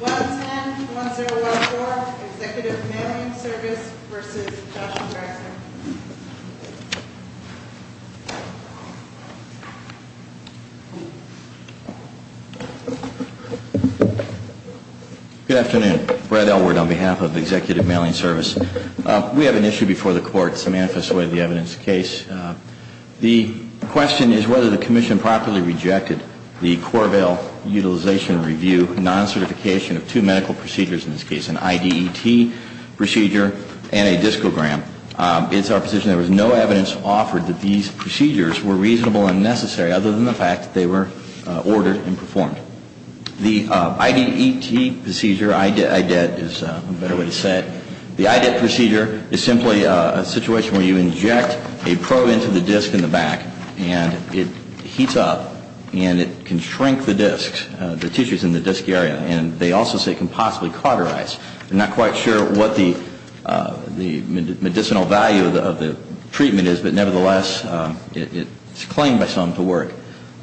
110104 Executive Mailing Service v. Joshua Braxton Good afternoon. Brad Elward on behalf of Executive Mailing Service. We have an issue before the court. Samantha Suede, the evidence case. The question is whether the commission properly rejected the Corvail Utilization Review non-certification of two medical procedures in this case, an IDET procedure and a discogram. It's our position there was no evidence offered that these procedures were reasonable and necessary other than the fact that they were ordered and performed. So the IDET procedure, IDET is a better way to say it, the IDET procedure is simply a situation where you inject a probe into the disc in the back and it heats up and it can shrink the disc, the tissues in the disc area. And they also say it can possibly cauterize. I'm not quite sure what the medicinal value of the treatment is, but nevertheless, it's claimed by some to work.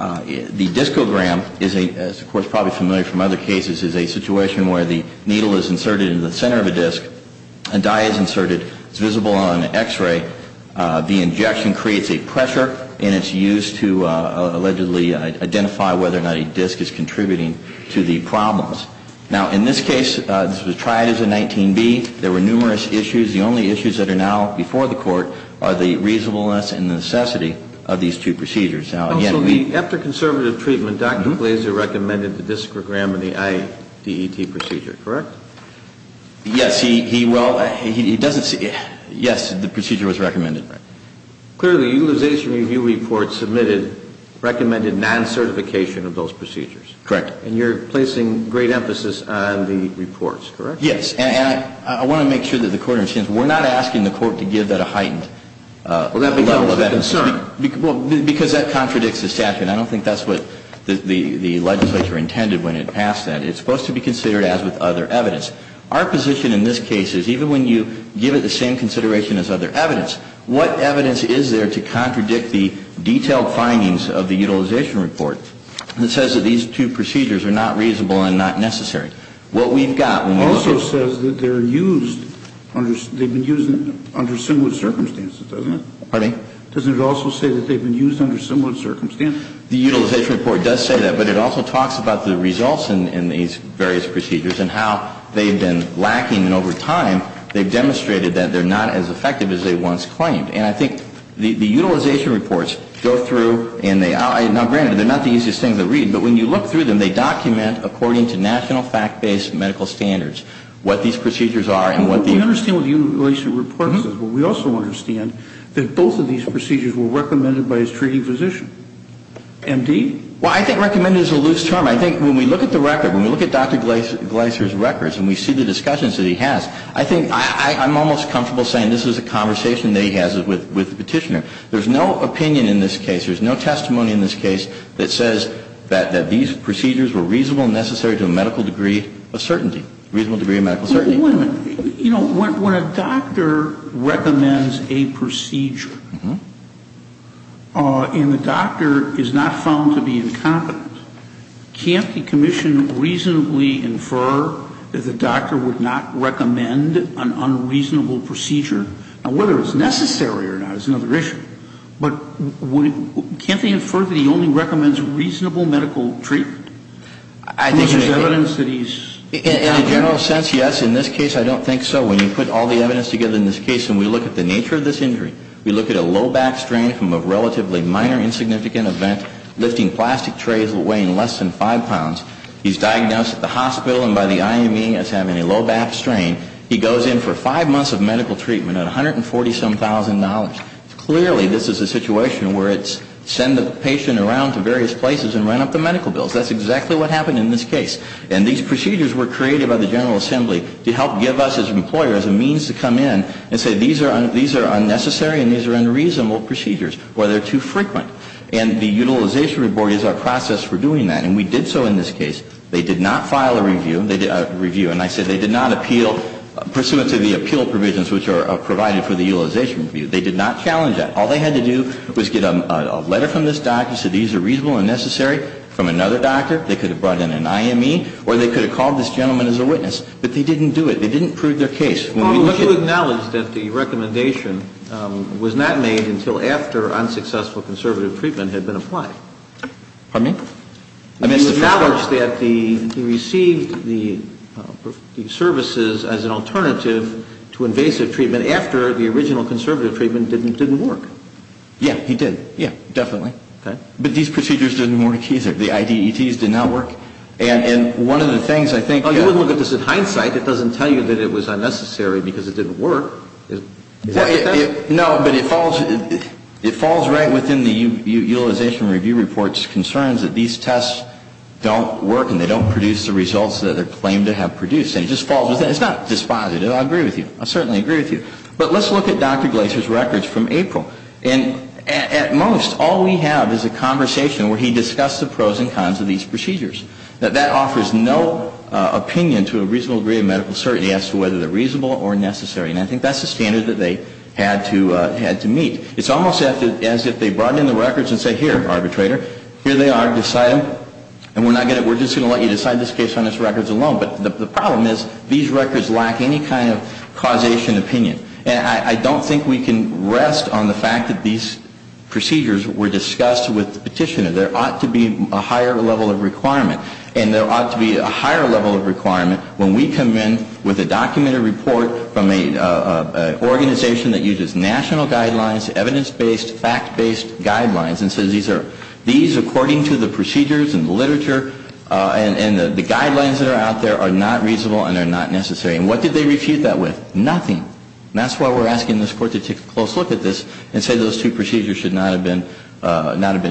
The discogram, as the Court is probably familiar from other cases, is a situation where the needle is inserted into the center of a disc, a dye is inserted, it's visible on an X-ray. The injection creates a pressure and it's used to allegedly identify whether or not a disc is contributing to the problems. Now, in this case, this was tried as a 19B. There were numerous issues. The only issues that are now before the Court are the reasonableness and necessity of these two procedures. After conservative treatment, Dr. Glazer recommended the discogram and the IDET procedure, correct? Yes, he does. Yes, the procedure was recommended. Clearly, the Utilization Review Report submitted recommended non-certification of those procedures. Correct. And you're placing great emphasis on the reports, correct? Yes. And I want to make sure that the Court understands we're not asking the Court to give that a heightened level of emphasis. Well, because that contradicts the statute. I don't think that's what the legislature intended when it passed that. It's supposed to be considered as with other evidence. Our position in this case is even when you give it the same consideration as other evidence, what evidence is there to contradict the detailed findings of the Utilization Report that says that these two procedures are not reasonable and not necessary? What we've got when we look at... It also says that they're used, they've been used under similar circumstances, doesn't it? Pardon me? Doesn't it also say that they've been used under similar circumstances? The Utilization Report does say that, but it also talks about the results in these various procedures and how they've been lacking. And over time, they've demonstrated that they're not as effective as they once claimed. And I think the Utilization Reports go through and they... Now, granted, they're not the easiest thing to read, but when you look through them, they document according to national fact-based medical standards what these procedures are and what the... But we also understand that both of these procedures were recommended by his treating physician. M.D.? Well, I think recommended is a loose term. I think when we look at the record, when we look at Dr. Gleiser's records and we see the discussions that he has, I think I'm almost comfortable saying this is a conversation that he has with the petitioner. There's no opinion in this case, there's no testimony in this case that says that these procedures were reasonable and necessary to a medical degree of certainty, reasonable degree of medical certainty. Wait a minute. You know, when a doctor recommends a procedure and the doctor is not found to be incompetent, can't the commission reasonably infer that the doctor would not recommend an unreasonable procedure? Now, whether it's necessary or not is another issue. But can't they infer that he only recommends reasonable medical treatment? Is there evidence that he's... In a general sense, yes. In this case, I don't think so. When you put all the evidence together in this case and we look at the nature of this injury, we look at a low back strain from a relatively minor insignificant event lifting plastic trays weighing less than five pounds. He's diagnosed at the hospital and by the IME as having a low back strain. He goes in for five months of medical treatment at $147,000. Clearly this is a situation where it's send the patient around to various places and run up the medical bills. That's exactly what happened in this case. And these procedures were created by the General Assembly to help give us as employers a means to come in and say these are unnecessary and these are unreasonable procedures or they're too frequent. And the utilization report is our process for doing that. And we did so in this case. They did not file a review. And I said they did not appeal pursuant to the appeal provisions which are provided for the utilization review. They did not challenge that. All they had to do was get a letter from this doctor that said these are reasonable and necessary. From another doctor. They could have brought in an IME or they could have called this gentleman as a witness. But they didn't do it. They didn't prove their case. Well, but you acknowledged that the recommendation was not made until after unsuccessful conservative treatment had been applied. Pardon me? You acknowledged that he received the services as an alternative to invasive treatment after the original conservative treatment didn't work. Yeah, he did. Yeah, definitely. But these procedures didn't work either. The IDETs did not work. And one of the things I think that you would look at this in hindsight. It doesn't tell you that it was unnecessary because it didn't work. No, but it falls right within the utilization review report's concerns that these tests don't work and they don't produce the results that they're claimed to have produced. And it just falls with that. It's not dispositive. I agree with you. I certainly agree with you. But let's look at Dr. Glaser's records from April. And at most, all we have is a conversation where he discussed the pros and cons of these procedures. That that offers no opinion to a reasonable degree of medical certainty as to whether they're reasonable or necessary. And I think that's the standard that they had to meet. It's almost as if they brought in the records and said, here, arbitrator, here they are, decide them, and we're just going to let you decide this case on these records alone. But the problem is these records lack any kind of causation opinion. And I don't think we can rest on the fact that these procedures were discussed with the petitioner. There ought to be a higher level of requirement. And there ought to be a higher level of requirement when we come in with a documented report from an organization that uses national guidelines, evidence-based, fact-based guidelines, and says these are, these according to the procedures and the literature and the guidelines that are out there are not reasonable and they're not necessary. And what did they refute that with? Nothing. And that's why we're asking this Court to take a close look at this and say those two procedures should not have been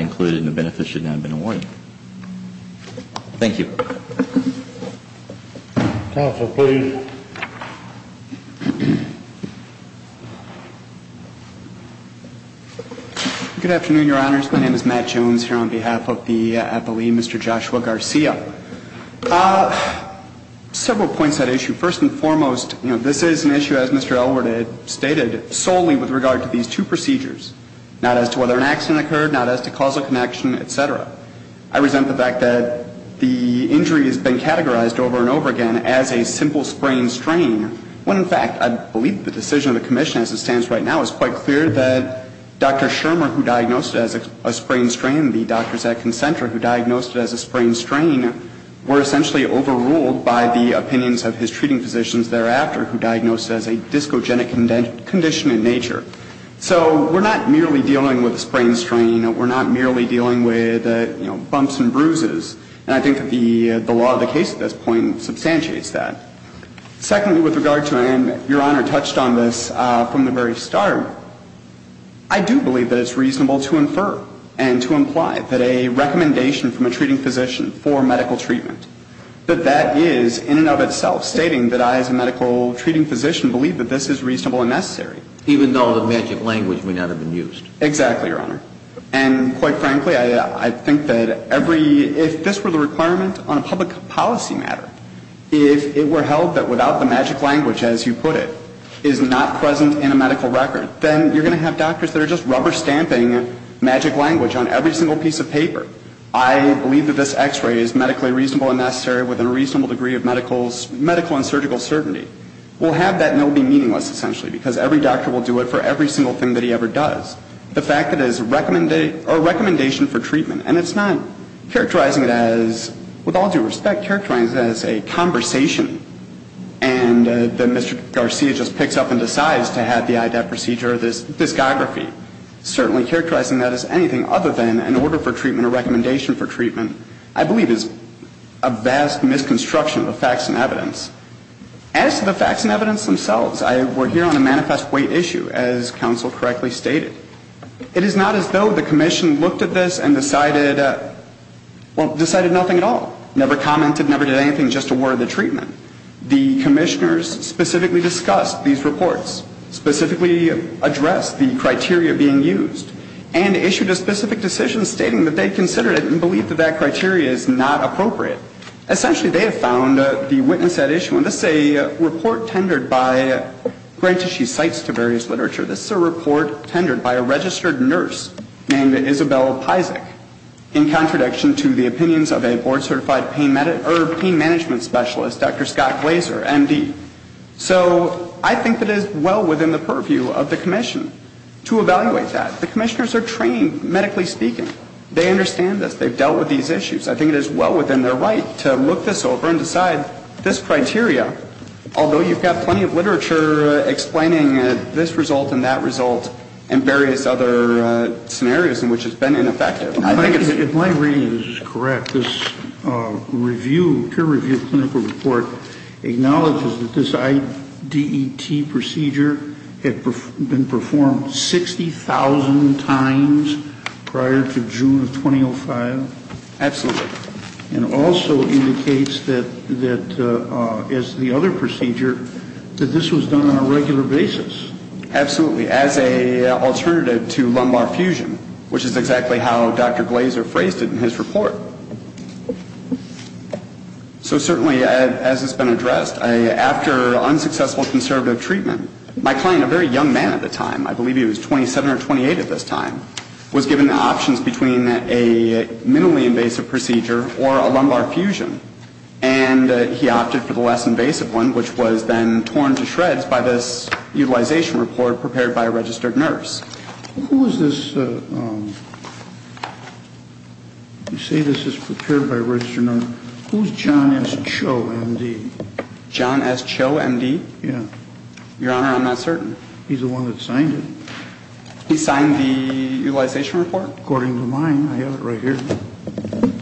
included and the benefits should not have been awarded. Thank you. Counsel, please. Good afternoon, Your Honors. My name is Matt Jones here on behalf of the appellee, Mr. Joshua Garcia. Several points to that issue. First and foremost, you know, this is an issue, as Mr. Elwood had stated, solely with regard to these two procedures, not as to whether an accident occurred, not as to causal connection, et cetera. I resent the fact that the injury has been categorized over and over again as a simple sprain strain, when, in fact, I believe the decision of the commission as it stands right now is quite clear that Dr. Elwood's treatment and his treatment were essentially overruled by the opinions of his treating physicians thereafter who diagnosed as a discogenic condition in nature. So we're not merely dealing with a sprain strain. We're not merely dealing with, you know, bumps and bruises. And I think the law of the case at this point substantiates that. Secondly, with regard to, and Your Honor touched on this from the very start, I do believe that it's reasonable to infer and to imply that a recommendation from a treating physician for medical treatment, that that is in and of itself stating that I as a medical treating physician believe that this is reasonable and necessary. Even though the magic language may not have been used. Exactly, Your Honor. And quite frankly, I think that every, if this were the requirement on a public policy matter, if it were held that without the magic language, as you put it, is not present in a medical record, then you're going to have doctors that are just rubber stamping magic language on every single piece of paper. I believe that this x-ray is medically reasonable and necessary with a reasonable degree of medical and surgical certainty. We'll have that and it will be meaningless, essentially, because every doctor will do it for every single thing that he ever does. The fact that it is a recommendation for treatment, and it's not characterizing it as, with all due respect, characterizing it as a conversation and that Mr. Garcia just picks up and decides to have the IDAP procedure or this discography, certainly characterizing that as anything other than an order for treatment or recommendation for treatment, I believe is a vast misconstruction of facts and evidence. As to the facts and evidence themselves, we're here on a manifest weight issue, as counsel correctly stated. It is not as though the commission looked at this and decided, well, decided nothing at all. Never commented, never did anything, just a word of the treatment. The commissioners specifically discussed these reports, specifically addressed the criteria being used, and issued a specific decision stating that they considered it and believed that that criteria is not appropriate. Essentially, they have found the witness at issue, and this is a report tendered by, granted she cites to various literature, this is a report tendered by a registered nurse named Isabelle Pysak, in contradiction to the opinions of a board-certified pain management specialist, Dr. Scott Glaser, MD. So I think it is well within the purview of the commission to evaluate that. The commissioners are trained, medically speaking. They understand this. They've dealt with these issues. I think it is well within their right to look this over and decide this criteria, although you've got plenty of literature explaining this result and that result and various other scenarios in which it's been ineffective. In my reading, this is correct. This peer-reviewed clinical report acknowledges that this IDET procedure had been performed 60,000 times prior to June of 2005. Absolutely. And also indicates that, as the other procedure, that this was done on a regular basis. Absolutely. As an alternative to lumbar fusion, which is exactly how Dr. Glaser phrased it in his report. So certainly, as has been addressed, after unsuccessful conservative treatment, my client, a very young man at the time, I believe he was 27 or 28 at this time, was given options between a minimally invasive procedure or a lumbar fusion. And he opted for the less invasive one, which was then torn to shreds by this utilization report prepared by a registered nurse. Who is this? You say this is prepared by a registered nurse. Who is John S. Cho, MD? John S. Cho, MD? Yeah. Your Honor, I'm not certain. He's the one that signed it. He signed the utilization report? According to mine. I have it right here.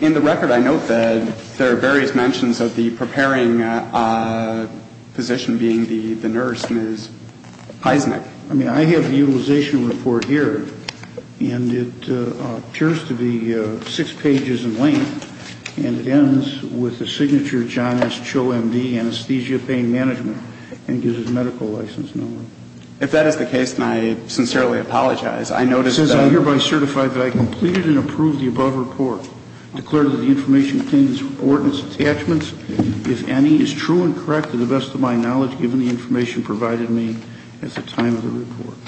In the record, I note that there are various mentions of the preparing physician being the nurse, Ms. Heisnick. I mean, I have the utilization report here, and it appears to be six pages in length. And it ends with the signature John S. Cho, MD, anesthesia pain management, and gives his medical license number. If that is the case, then I sincerely apologize. I noticed that... It says I hereby certify that I completed and approved the above report, declared that the information contained in this ordinance attachments, if any, is true and correct to the best of my knowledge, given the information provided me at the time of the report.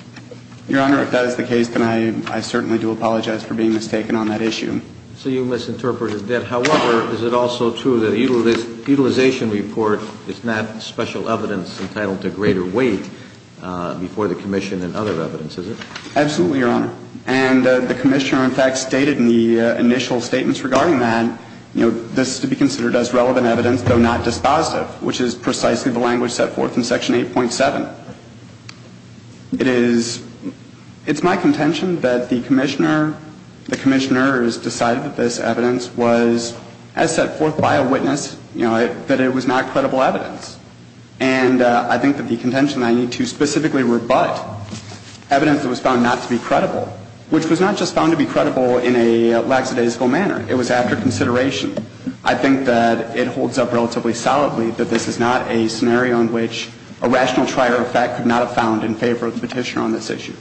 Your Honor, if that is the case, then I certainly do apologize for being mistaken on that issue. So you misinterpreted that. However, is it also true that the utilization report is not special evidence entitled to greater weight before the commission and other evidence, is it? Absolutely, Your Honor. And the commissioner, in fact, stated in the initial statements regarding that, you know, this is to be considered as relevant evidence, though not dispositive, which is precisely the language set forth in Section 8.7. It is my contention that the commissioner, the commissioners decided that this evidence was, as set forth by a witness, you know, that it was not credible evidence. And I think that the contention I need to specifically rebut evidence that was found not to be credible, which was not just found to be credible in a lackadaisical manner. It was after consideration. I think that it holds up relatively solidly that this is not a scenario in which a rational trial, in fact, could not have found in favor of the petitioner on this issue.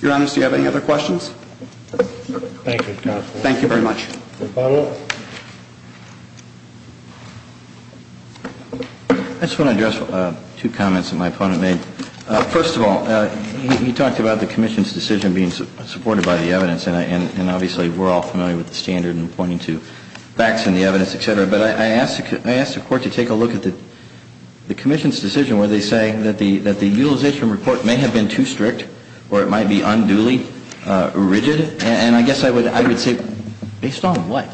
Your Honor, do you have any other questions? Thank you, counsel. Thank you very much. Any follow-up? I just want to address two comments that my opponent made. First of all, he talked about the commission's decision being supported by the evidence, and obviously we're all familiar with the standard in pointing to facts in the evidence, et cetera. But I asked the Court to take a look at the commission's decision where they say that the utilization report may have been too strict or it might be unduly rigid. And I guess I would say, based on what?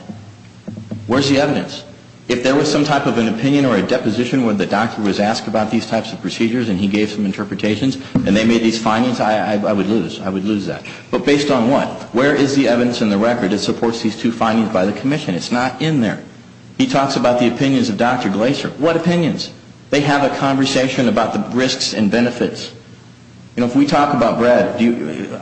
Where's the evidence? If there was some type of an opinion or a deposition where the doctor was asked about these types of procedures and he gave some interpretations and they made these findings, I would lose that. But based on what? Where is the evidence in the record that supports these two findings by the commission? It's not in there. He talks about the opinions of Dr. Glaser. What opinions? They have a conversation about the risks and benefits. You know, if we talk about bread,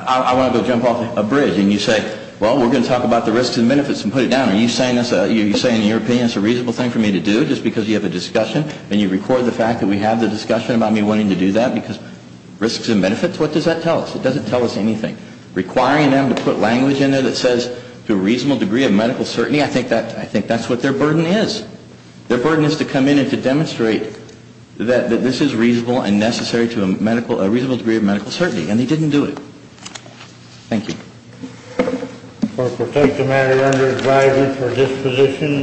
I want to go jump off a bridge and you say, well, we're going to talk about the risks and benefits and put it down. Are you saying in your opinion it's a reasonable thing for me to do just because you have a discussion and you record the fact that we have the discussion about me wanting to do that because risks and benefits? What does that tell us? It doesn't tell us anything. Requiring them to put language in there that says to a reasonable degree of medical certainty, I think that's what their burden is. Their burden is to come in and to demonstrate that this is reasonable and necessary to a reasonable degree of medical certainty. And they didn't do it. Thank you. For a protected matter you're under advisement for disposition.